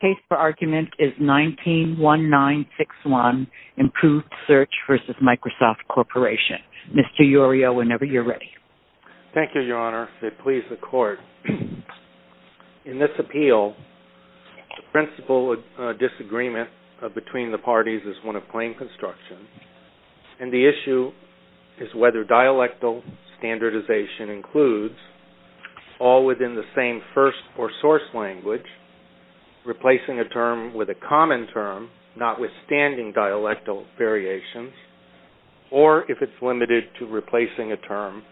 Case for argument is 19-1961, Improved Search v. Microsoft Corporation. Mr. Urio, whenever you're ready. Thank you, Your Honor. It pleases the Court. In this appeal, the principle of disagreement between the parties is one of claim construction, and the issue is whether dialectal standardization includes all within the same first or source language, replacing a term with a common term notwithstanding dialectal variations, or if it's limited to replacing a term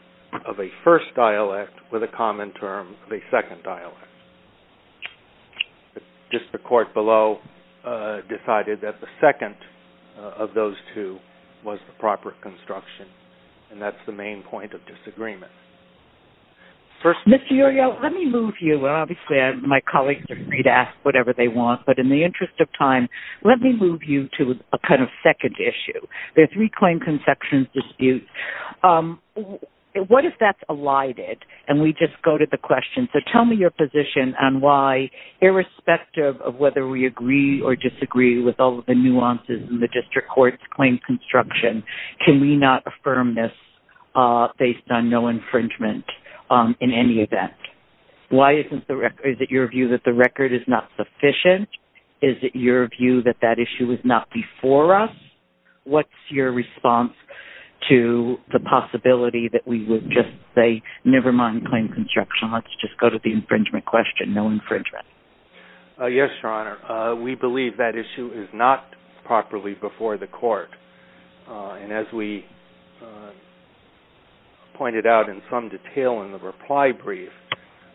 of a first dialect with a common term of a second dialect. Just the Court below decided that the second of those two was the proper construction, and that's the main point of disagreement. Mr. Urio, let me move you. Obviously, my colleagues are free to ask whatever they want, but in the interest of time, let me move you to a kind of second issue. There are three claim construction disputes. What if that's elided, and we just go to the question. Tell me your position on why, irrespective of whether we agree or disagree with all of the nuances in the district court's claim construction, can we not affirm this based on no infringement in any event? Is it your view that the record is not sufficient? Is it your view that that issue was not before us? What's your response to the possibility that we would just say, never mind claim construction. Let's just go to the infringement question, no infringement. Yes, Your Honor. We believe that issue is not properly before the Court, and as we pointed out in some detail in the reply brief,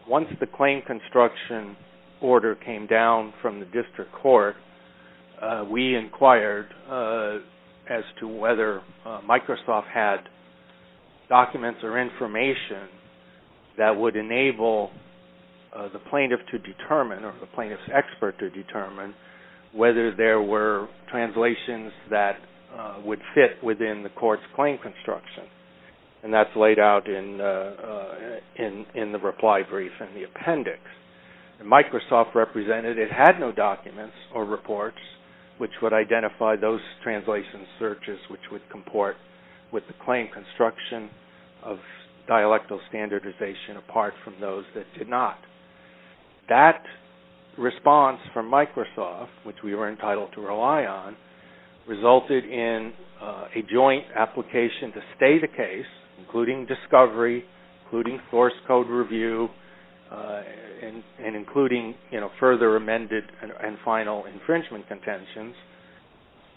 once the claim construction order came down from the district court, we inquired as to whether Microsoft had documents or information that would enable the plaintiff to determine, or the plaintiff's expert to determine, whether there were translations that would fit within the court's claim construction. And that's laid out in the reply brief and the appendix. Microsoft represented it had no documents or reports which would identify those translation searches which would comport with the claim construction of dialectal standardization apart from those that did not. That response from Microsoft, which we were entitled to rely on, resulted in a joint application to stay the case, including discovery, including source code review, and including further amended and final infringement contentions.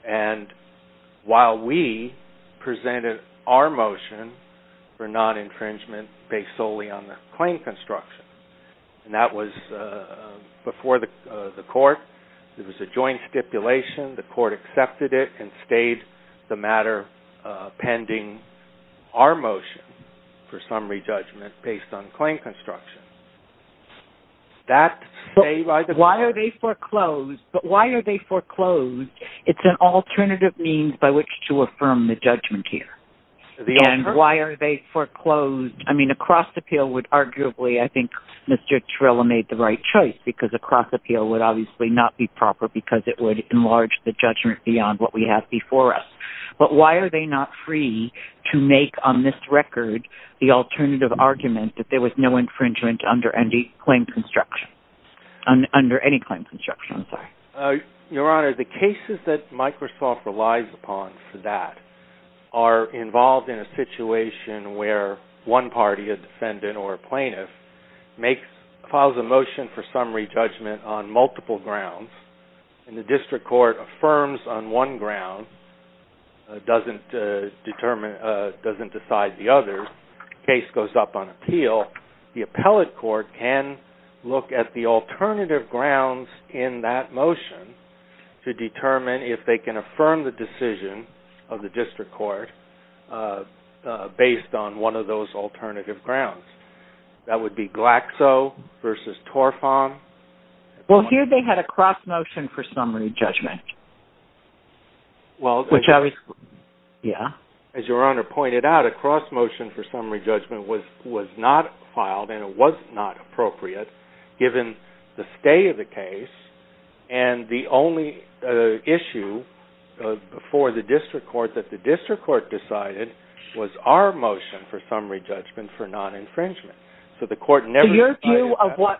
And while we presented our motion for non-infringement based solely on the claim construction, and that was before the court, it was a joint stipulation. The court accepted it and stayed the matter pending our motion for summary judgment based on claim construction. But why are they foreclosed? It's an alternative means by which to affirm the judgment here. And why are they foreclosed? I mean, a cross-appeal would arguably, I think Mr. Trella made the right choice, because a cross-appeal would obviously not be proper because it would enlarge the judgment beyond what we have before us. But why are they not free to make on this record the alternative argument that there was no infringement under any claim construction? Your Honor, the cases that Microsoft relies upon for that are involved in a situation where one party, a defendant or a plaintiff, files a motion for summary judgment on multiple grounds, and the district court affirms on one ground, doesn't decide the other. The case goes up on appeal. The appellate court can look at the alternative grounds in that motion to determine if they can affirm the decision of the district court based on one of those alternative grounds. That would be Glaxo versus Torfam. Well, here they had a cross-motion for summary judgment, which obviously, yeah. As Your Honor pointed out, a cross-motion for summary judgment was not filed, and it was not appropriate given the stay of the case. And the only issue before the district court that the district court decided was our motion for summary judgment for non-infringement. So the court never decided that.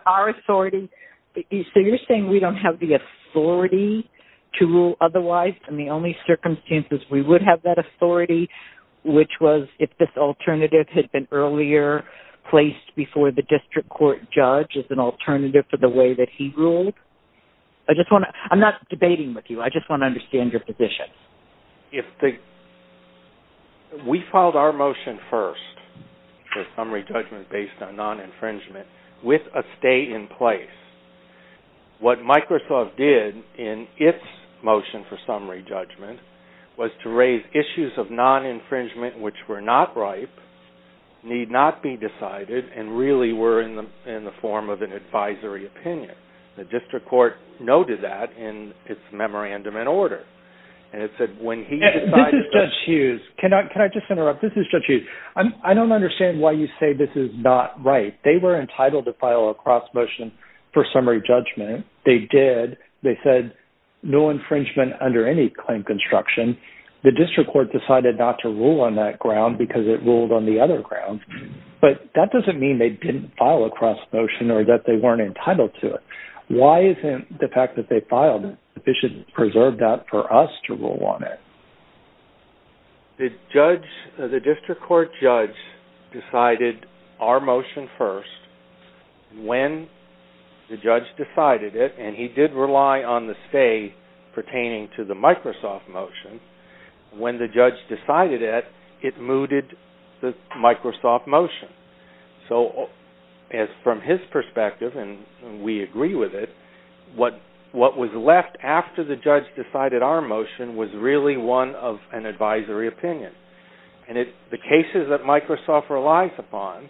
So you're saying we don't have the authority to rule otherwise, and the only circumstances we would have that authority, which was if this alternative had been earlier placed before the district court judge as an alternative to the way that he ruled? I'm not debating with you. I just want to understand your position. We filed our motion first for summary judgment based on non-infringement with a stay in place. What Microsoft did in its motion for summary judgment was to raise issues of non-infringement which were not ripe, need not be decided, and really were in the form of an advisory opinion. The district court noted that in its memorandum in order. This is Judge Hughes. Can I just interrupt? This is Judge Hughes. I don't understand why you say this is not right. They were entitled to file a cross-motion for summary judgment. They did. They said no infringement under any claim construction. The district court decided not to rule on that ground because it ruled on the other ground. But that doesn't mean they didn't file a cross-motion or that they weren't entitled to it. Why isn't the fact that they filed sufficient to preserve that for us to rule on it? The district court judge decided our motion first. When the judge decided it, and he did rely on the stay pertaining to the Microsoft motion, when the judge decided it, it mooted the Microsoft motion. So from his perspective, and we agree with it, what was left after the judge decided our motion was really one of an advisory opinion. And the cases that Microsoft relies upon,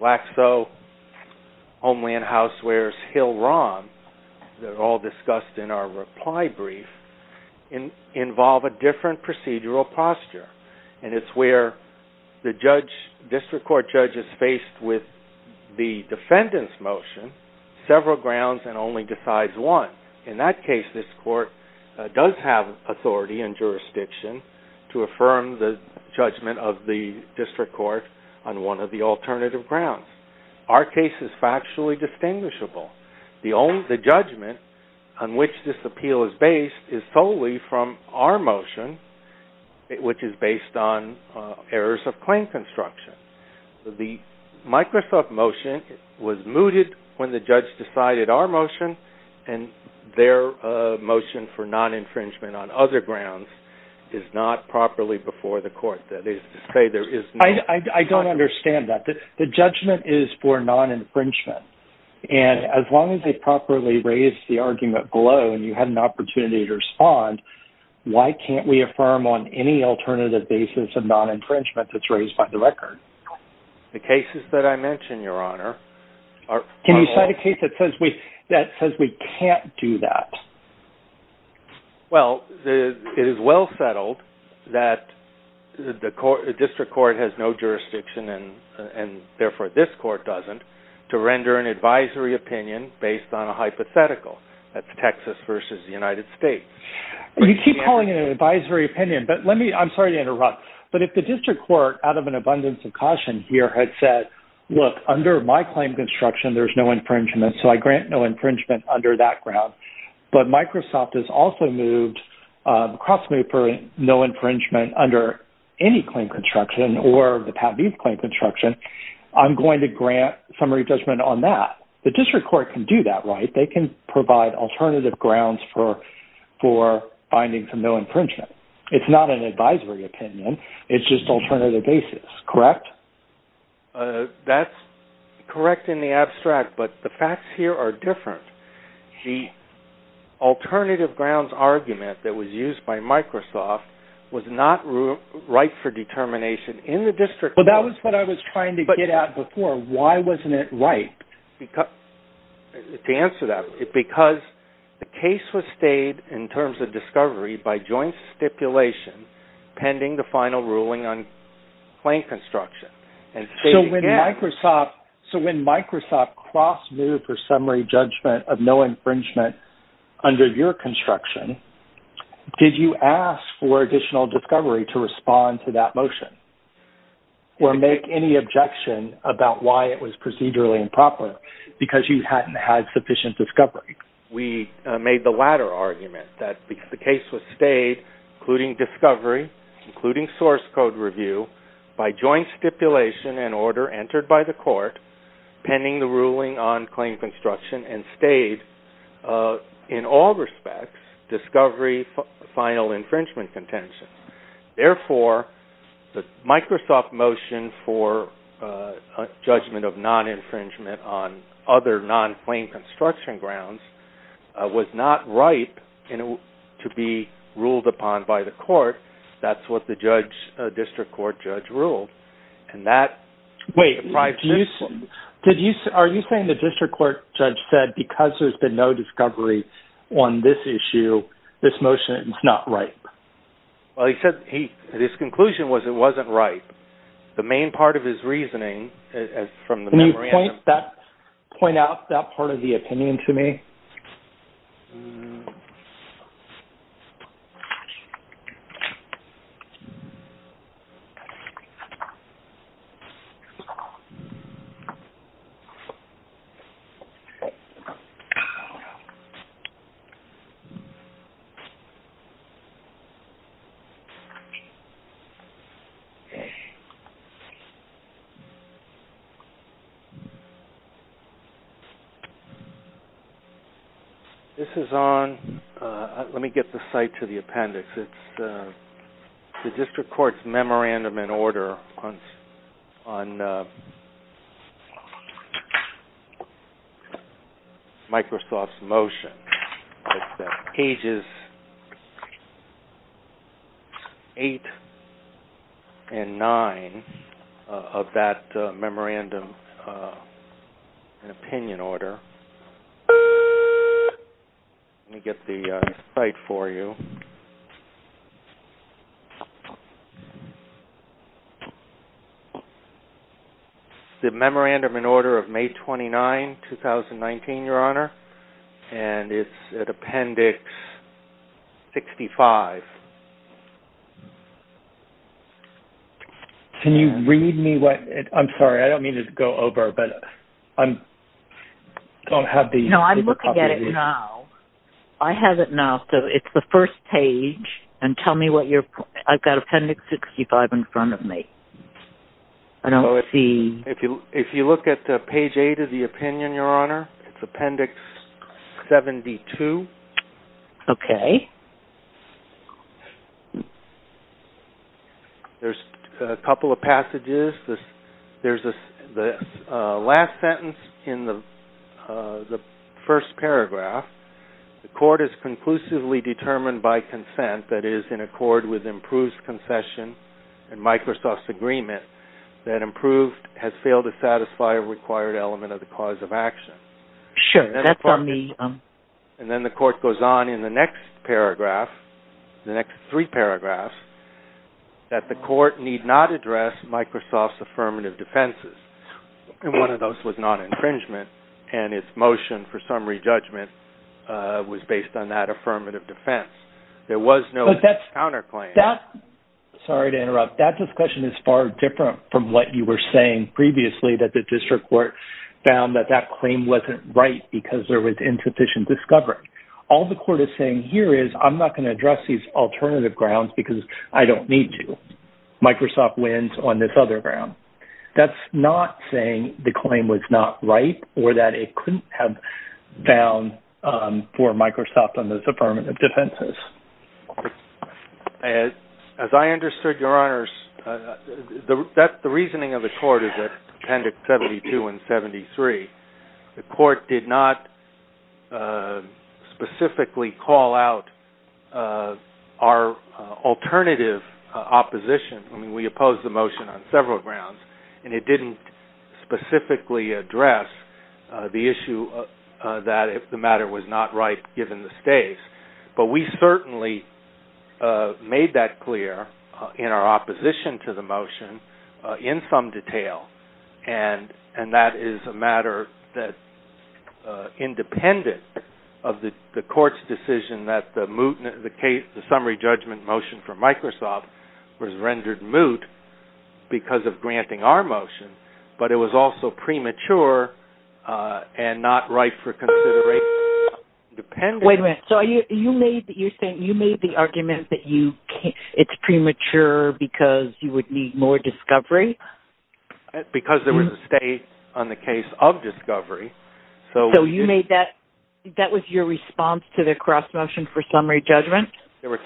Laxo, Homeland Housewares, Hill-Rom, they're all discussed in our reply brief, involve a different procedural posture. And it's where the district court judge is faced with the defendant's motion, several grounds, and only decides one. In that case, this court does have authority and jurisdiction to affirm the judgment of the district court on one of the alternative grounds. Our case is factually distinguishable. The judgment on which this appeal is based is solely from our motion, which is based on errors of claim construction. The Microsoft motion was mooted when the judge decided our motion, and their motion for non-infringement on other grounds is not properly before the court. I don't understand that. The judgment is for non-infringement, and as long as they properly raise the argument below and you have an opportunity to respond, why can't we affirm on any alternative basis a non-infringement that's raised by the record? The cases that I mentioned, Your Honor, are... Can you cite a case that says we can't do that? Well, it is well settled that the district court has no jurisdiction, and therefore this court doesn't, to render an advisory opinion based on a hypothetical. That's Texas versus the United States. You keep calling it an advisory opinion, but let me... I'm sorry to interrupt, but if the district court, out of an abundance of caution here, had said, look, under my claim construction, there's no infringement, so I grant no infringement under that ground, but Microsoft has also moved across no infringement under any claim construction or the Pat Vieth claim construction, I'm going to grant summary judgment on that. The district court can do that, right? They can provide alternative grounds for finding some no infringement. It's not an advisory opinion. It's just alternative basis, correct? That's correct in the abstract, but the facts here are different. The alternative grounds argument that was used by Microsoft was not right for determination. In the district court... But that was what I was trying to get at before. Why wasn't it right? To answer that, it's because the case was stayed in terms of discovery by joint stipulation pending the final ruling on claim construction. So when Microsoft cross-moved for summary judgment of no infringement under your construction, did you ask for additional discovery to respond to that motion or make any objection about why it was procedurally improper because you hadn't had sufficient discovery? We made the latter argument that the case was stayed, including discovery, including source code review, by joint stipulation and order entered by the court pending the ruling on claim construction and stayed in all respects discovery, final infringement contention. Therefore, the Microsoft motion for judgment of non-infringement on other non-claim construction grounds was not right to be ruled upon by the court. That's what the district court judge ruled. Are you saying the district court judge said because there's been no discovery on this issue, this motion is not right? Well, he said his conclusion was it wasn't right. The main part of his reasoning from the memorandum... Can you point out that part of the opinion to me? Okay. This is on... Let me get the site to the appendix. It's the district court's memorandum in order on Microsoft's motion. It's pages 8 and 9 of that memorandum in opinion order. Let me get the site for you. The memorandum in order of May 29, 2019, Your Honor, and it's at appendix 65. Can you read me what... I'm sorry, I don't mean to go over, but I don't have the... No, I'm looking at it now. I have it now. It's the first page, and tell me what you're... I've got appendix 65 in front of me. I don't see... If you look at page 8 of the opinion, Your Honor, it's appendix 72. Okay. There's a couple of passages. There's the last sentence in the first paragraph. The court is conclusively determined by consent, that is, in accord with improved concession and Microsoft's agreement that improved has failed to satisfy a required element of the cause of action. Sure, that's on the... And then the court goes on in the next paragraph, the next three paragraphs, that the court need not address Microsoft's affirmative defenses. And one of those was non-infringement, and its motion for summary judgment was based on that affirmative defense. There was no counterclaim. Sorry to interrupt. That discussion is far different from what you were saying previously, that the district court found that that claim wasn't right because there was insufficient discovery. All the court is saying here is, I'm not going to address these alternative grounds because I don't need to. Microsoft wins on this other ground. That's not saying the claim was not right or that it couldn't have found for Microsoft on those affirmative defenses. As I understood, Your Honors, the reasoning of the court is that, appendix 72 and 73, the court did not specifically call out our alternative opposition. I mean, we opposed the motion on several grounds, and it didn't specifically address the issue that the matter was not right given the states. But we certainly made that clear in our opposition to the motion in some detail, and that is a matter that, independent of the court's decision that the summary judgment motion for Microsoft was rendered moot because of granting our motion, but it was also premature and not right for consideration. Wait a minute. So you're saying you made the argument that it's premature because you would need more discovery? Because there was a state on the case of discovery. So that was your response to the cross-motion for summary judgment? There were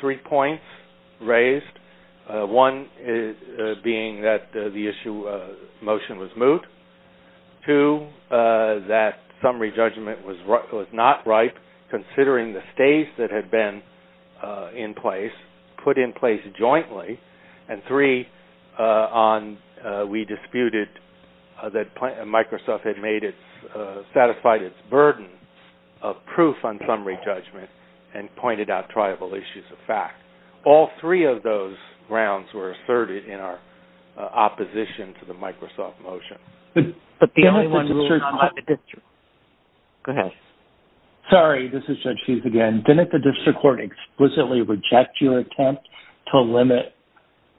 three points raised, one being that the motion was moot, two, that summary judgment was not right considering the states that had been in place put in place jointly, and three, we disputed that Microsoft had satisfied its burden of proof on summary judgment and pointed out triable issues of fact. All three of those grounds were asserted in our opposition to the Microsoft motion. But the only one that was not the district. Go ahead. Sorry, this is Judge Hughes again. Didn't the district court explicitly reject your attempt to limit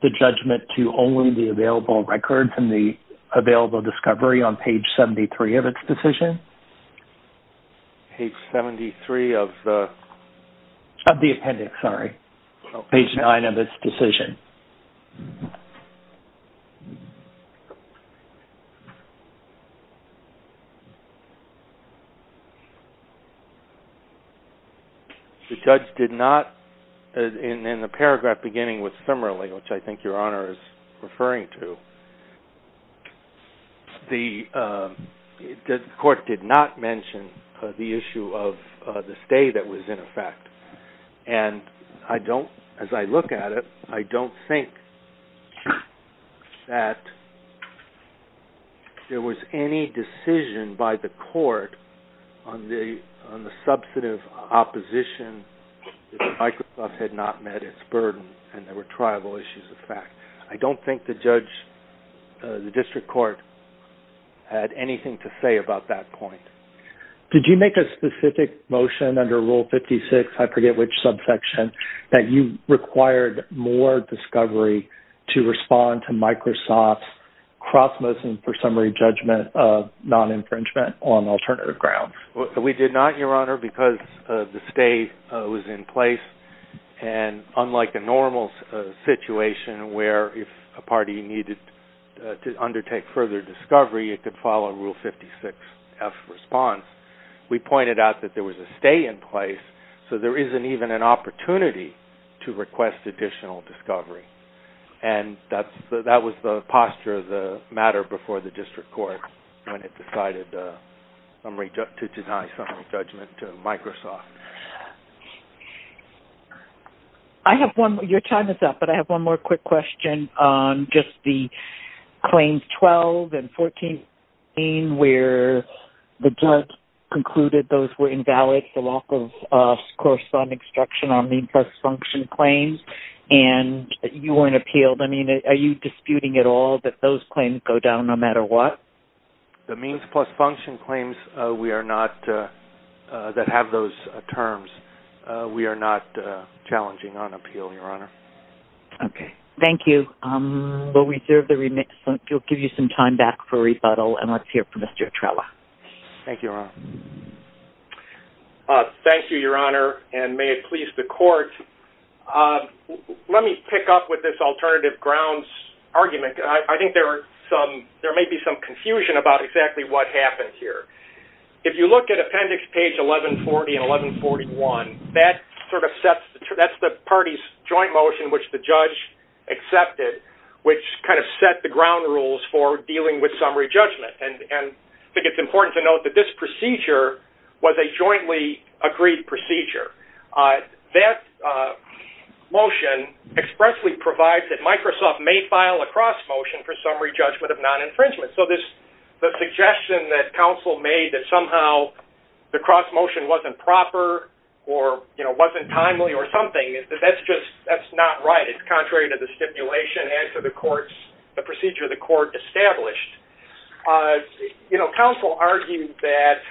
the judgment to only the available records and the available discovery on page 73 of its decision? Page 73 of the? Of the appendix, sorry. Page 9 of its decision. The judge did not, in the paragraph beginning with similarly, which I think Your Honor is referring to, the court did not mention the issue of the stay that was in effect. And I don't, as I look at it, I don't think that there was any decision by the court on the substantive opposition that Microsoft had not met its burden and there were triable issues of fact. I don't think the judge, the district court, had anything to say about that point. Did you make a specific motion under Rule 56, I forget which subsection, that you required more discovery to respond to Microsoft's cross-motion for summary judgment of non-infringement on alternative grounds? We did not, Your Honor, because the stay was in place and unlike a normal situation where if a party needed to undertake further discovery, it could follow Rule 56F response, we pointed out that there was a stay in place so there isn't even an opportunity to request additional discovery. And that was the posture of the matter before the district court Your time is up, but I have one more quick question. Just the Claims 12 and 14 where the judge concluded those were invalid for lack of corresponding instruction on means plus function claims and you weren't appealed. I mean, are you disputing at all that those claims go down no matter what? The means plus function claims that have those terms, we are not challenging on appeal, Your Honor. Okay, thank you. We'll reserve the remission. We'll give you some time back for rebuttal and let's hear from Mr. Trella. Thank you, Your Honor. Thank you, Your Honor, and may it please the court. Let me pick up with this alternative grounds argument. I think there may be some confusion about exactly what happened here. If you look at appendix page 1140 and 1141, that's the party's joint motion which the judge accepted, which kind of set the ground rules for dealing with summary judgment. And I think it's important to note that this procedure was a jointly agreed procedure. That motion expressly provides that Microsoft may file a cross motion for summary judgment of non-infringement. So the suggestion that counsel made that somehow the cross motion wasn't proper or, you know, wasn't timely or something, that's just not right. It's contrary to the stipulation and to the courts, the procedure the court established. You know, counsel argued that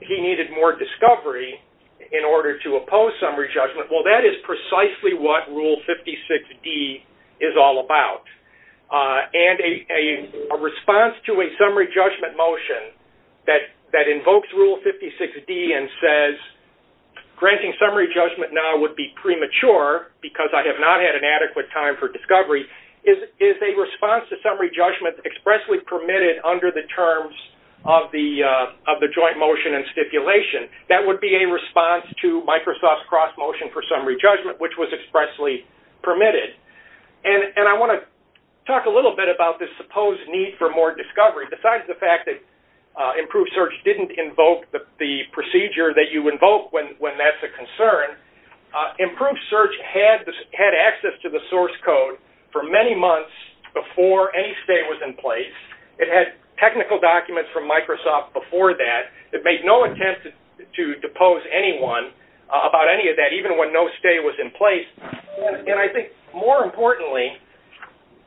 he needed more discovery in order to oppose summary judgment. Well, that is precisely what Rule 56D is all about. And a response to a summary judgment motion that invokes Rule 56D and says granting summary judgment now would be premature because I have not had an adequate time for discovery is a response to summary judgment expressly permitted under the terms of the joint motion and stipulation. That would be a response to Microsoft's cross motion for summary judgment, which was expressly permitted. And I want to talk a little bit about this supposed need for more discovery. Besides the fact that Improved Search didn't invoke the procedure that you invoke when that's a concern, Improved Search had access to the source code for many months before any stay was in place. It had technical documents from Microsoft before that. It made no intent to depose anyone about any of that, even when no stay was in place. And I think more importantly,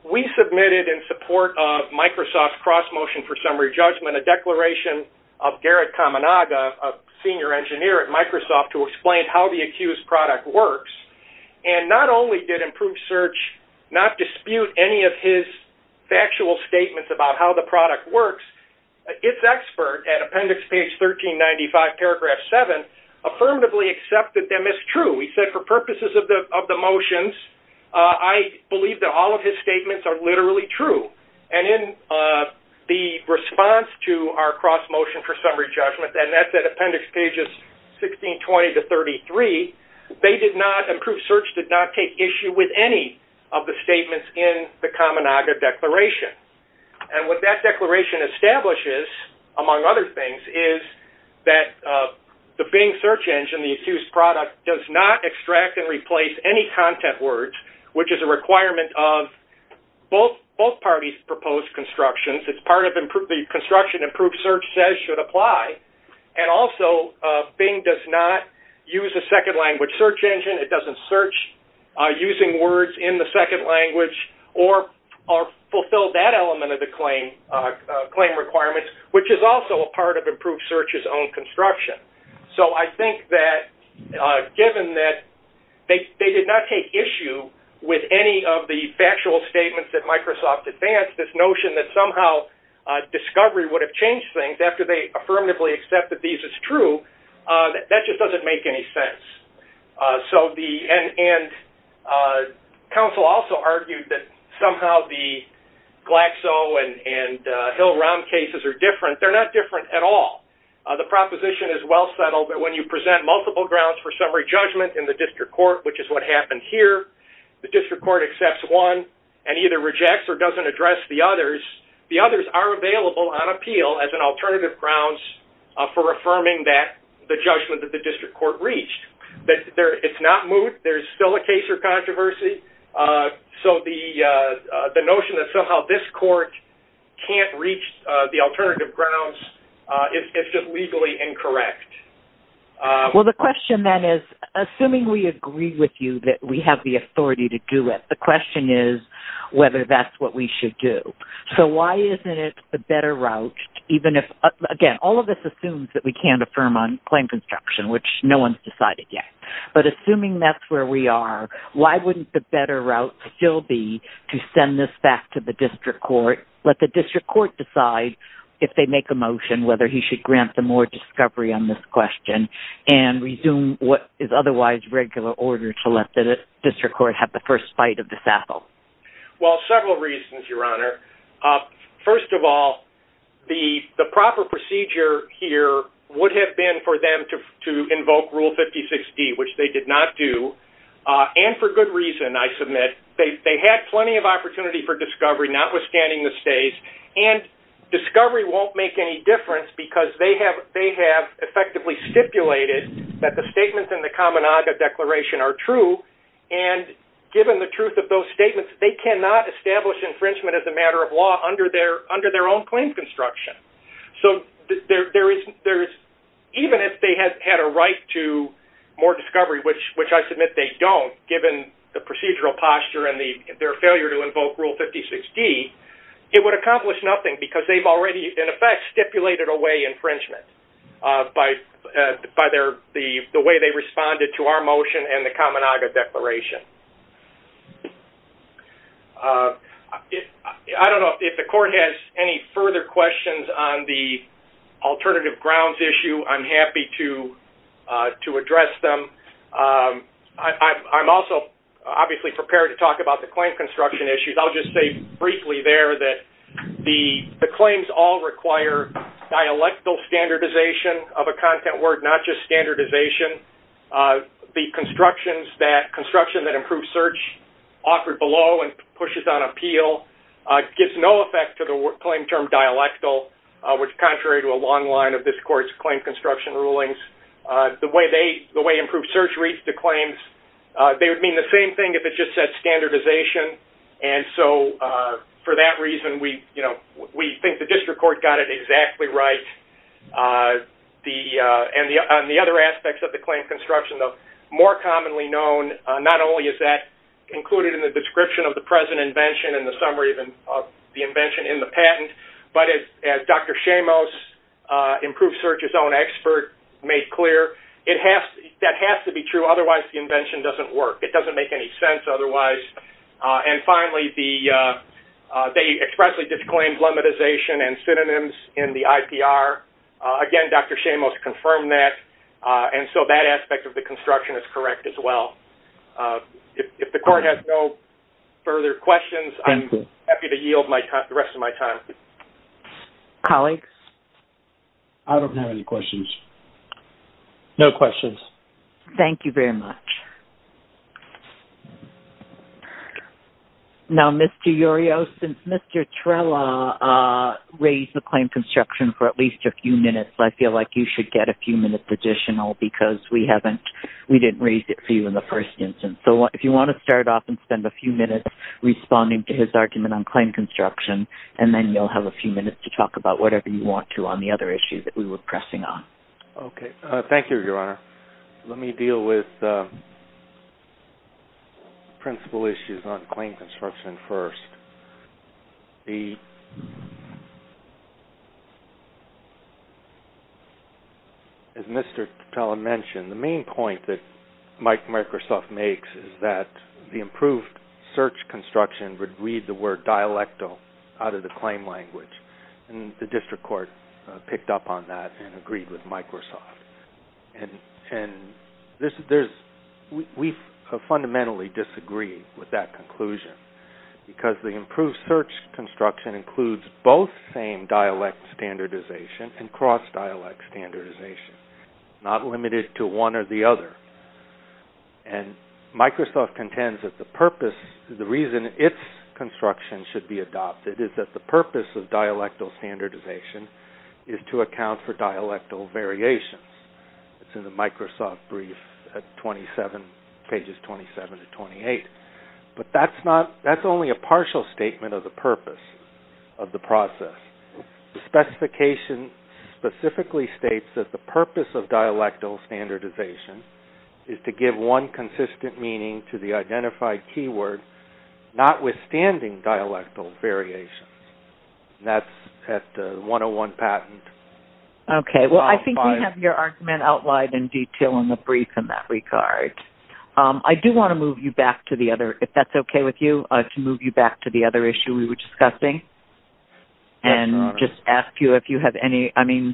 we submitted in support of Microsoft's cross motion for summary judgment a declaration of Garrett Kamenaga, a senior engineer at Microsoft, to explain how the accused product works. And not only did Improved Search not dispute any of his factual statements about how the product works, its expert at appendix page 1395, paragraph 7, affirmatively accepted them as true. He said, for purposes of the motions, I believe that all of his statements are literally true. And in the response to our cross motion for summary judgment, and that's at appendix pages 1620 to 33, they did not, Improved Search did not take issue with any of the statements in the Kamenaga declaration. And what that declaration establishes, among other things, is that the Bing search engine, the accused product, does not extract and replace any content words, which is a requirement of both parties' proposed constructions. It's part of the construction Improved Search says should apply. And also, Bing does not use a second language search engine. It doesn't search using words in the second language or fulfill that element of the claim requirements, which is also a part of Improved Search's own construction. So I think that, given that they did not take issue with any of the factual statements that Microsoft advanced, this notion that somehow discovery would have changed things after they affirmatively accepted these as true, that just doesn't make any sense. And counsel also argued that somehow the Glaxo and Hill-Rom cases are different. They're not different at all. The proposition is well settled that when you present multiple grounds for summary judgment in the district court, which is what happened here, the district court accepts one and either rejects or doesn't address the others, the others are available on appeal as an alternative grounds for affirming that, the judgment that the district court reached. It's not moot. There's still a case or controversy. So the notion that somehow this court can't reach the alternative grounds is just legally incorrect. Well, the question then is, assuming we agree with you that we have the authority to do it, the question is whether that's what we should do. So why isn't it a better route, even if, again, all of this assumes that we can't affirm on claim construction, which no one's decided yet. But assuming that's where we are, why wouldn't the better route still be to send this back to the district court, let the district court decide if they make a motion whether he should grant them more discovery on this question and resume what is otherwise regular order to let the district court have the first bite of the sassel? Well, several reasons, Your Honor. First of all, the proper procedure here would have been for them to invoke Rule 56D, which they did not do, and for good reason, I submit. They had plenty of opportunity for discovery, notwithstanding the stays, and discovery won't make any difference because they have effectively stipulated that the statements in the Kaminaga Declaration are true, and given the truth of those statements, they cannot establish infringement as a matter of law under their own claim construction. So even if they had a right to more discovery, which I submit they don't, given the procedural posture and their failure to invoke Rule 56D, it would accomplish nothing because they've already, in effect, stipulated away infringement by the way they responded to our motion and the Kaminaga Declaration. I don't know if the court has any further questions on the alternative grounds issue. I'm happy to address them. I'm also obviously prepared to talk about the claim construction issues. I'll just say briefly there that the claims all require dialectal standardization of a content word, not just standardization. The construction that improves search offered below and pushes on appeal gives no effect to the claim term dialectal, which is contrary to a long line of this court's claim construction rulings. The way improved search reads the claims, they would mean the same thing if it just said standardization, and so for that reason we think the district court got it exactly right. On the other aspects of the claim construction, more commonly known not only is that included in the description but as Dr. Shamos, improved search's own expert, made clear, that has to be true, otherwise the invention doesn't work. It doesn't make any sense otherwise, and finally they expressly disclaimed lemmatization and synonyms in the IPR. Again, Dr. Shamos confirmed that, and so that aspect of the construction is correct as well. If the court has no further questions, I'm happy to yield the rest of my time. Colleagues? I don't have any questions. No questions. Thank you very much. Now, Mr. Urio, since Mr. Trella raised the claim construction for at least a few minutes, I feel like you should get a few minutes additional because we didn't raise it for you in the first instance. So if you want to start off and spend a few minutes responding to his argument on claim construction, and then you'll have a few minutes to talk about whatever you want to on the other issues that we were pressing on. Okay. Thank you, Your Honor. Let me deal with principal issues on claim construction first. As Mr. Trella mentioned, the main point that Mike Microsoft makes is that the improved search construction would read the word dialectal out of the claim language, and the district court picked up on that and agreed with Microsoft. We fundamentally disagree with that conclusion because the improved search construction includes both same dialect standardization and cross-dialect standardization, not limited to one or the other. And Microsoft contends that the reason its construction should be adopted is that the purpose of dialectal standardization is to account for dialectal variations. It's in the Microsoft brief at pages 27 to 28. But that's only a partial statement of the purpose of the process. The specification specifically states that the purpose of dialectal standardization is to give one consistent meaning to the identified keyword, notwithstanding dialectal variations. That's at the 101 patent. Okay. Well, I think we have your argument outlined in detail in the brief in that regard. I do want to move you back to the other issue we were discussing. And just ask you if you have any, I mean,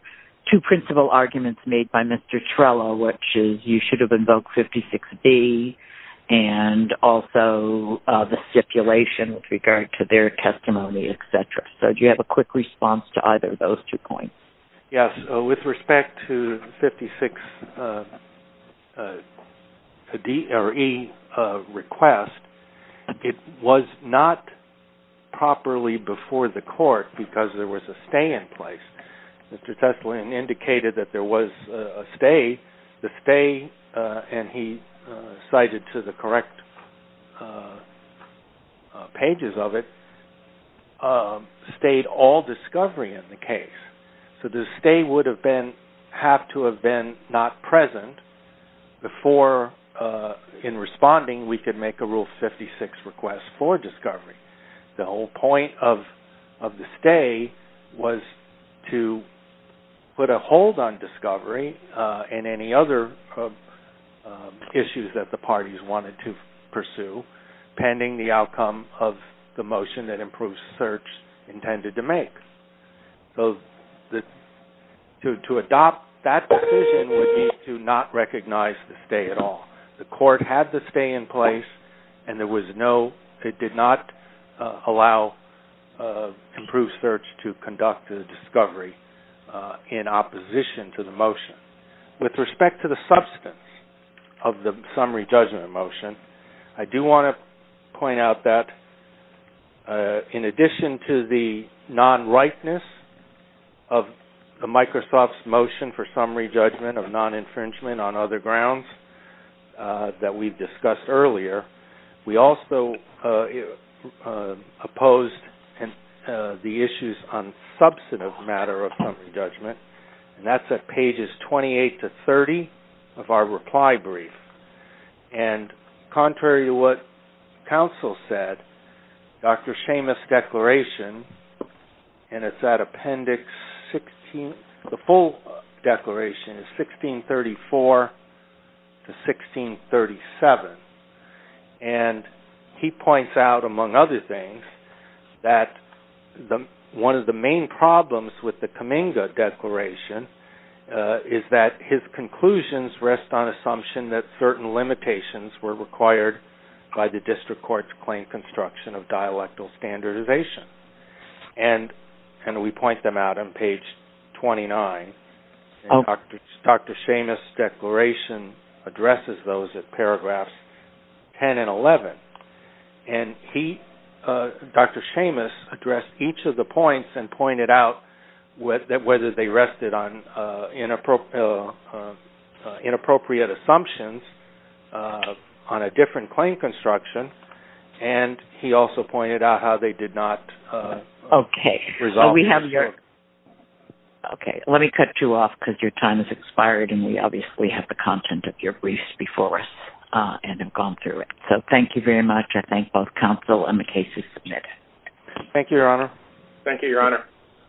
two principal arguments made by Mr. Trella, which is you should have invoked 56B, and also the stipulation with regard to their testimony, et cetera. So do you have a quick response to either of those two points? Yes. With respect to 56E request, it was not properly before the court because there was a stay in place. Mr. Teslin indicated that there was a stay. The stay, and he cited to the correct pages of it, stayed all discovery in the case. So the stay would have been, have to have been not present before in responding we could make a Rule 56 request for discovery. The whole point of the stay was to put a hold on discovery and any other issues that the parties wanted to pursue, pending the outcome of the motion that improved search intended to make. So to adopt that decision would mean to not recognize the stay at all. The court had the stay in place, and there was no, it did not allow improved search to conduct the discovery in opposition to the motion. With respect to the substance of the summary judgment motion, I do want to point out that in addition to the non-rightness of the Microsoft's motion for summary judgment of non-infringement on other grounds that we discussed earlier, we also opposed the issues on substantive matter of summary judgment. And that's at pages 28 to 30 of our reply brief. And contrary to what counsel said, Dr. Seamus' declaration, and it's at appendix 16, the full declaration is 1634 to 1637. And he points out, among other things, that one of the main problems with the Kaminga Declaration is that his conclusions rest on assumption that certain limitations were required by the district court's claim construction of dialectal standardization. And we point them out on page 29. Dr. Seamus' declaration addresses those at paragraphs 10 and 11. And he, Dr. Seamus, addressed each of the points and pointed out whether they rested on inappropriate assumptions on a different claim construction. And he also pointed out how they did not resolve the issue. Okay. Let me cut you off because your time has expired. And we obviously have the content of your briefs before us and have gone through it. So thank you very much. I thank both counsel and the cases submitted. Thank you, Your Honor. Thank you, Your Honor.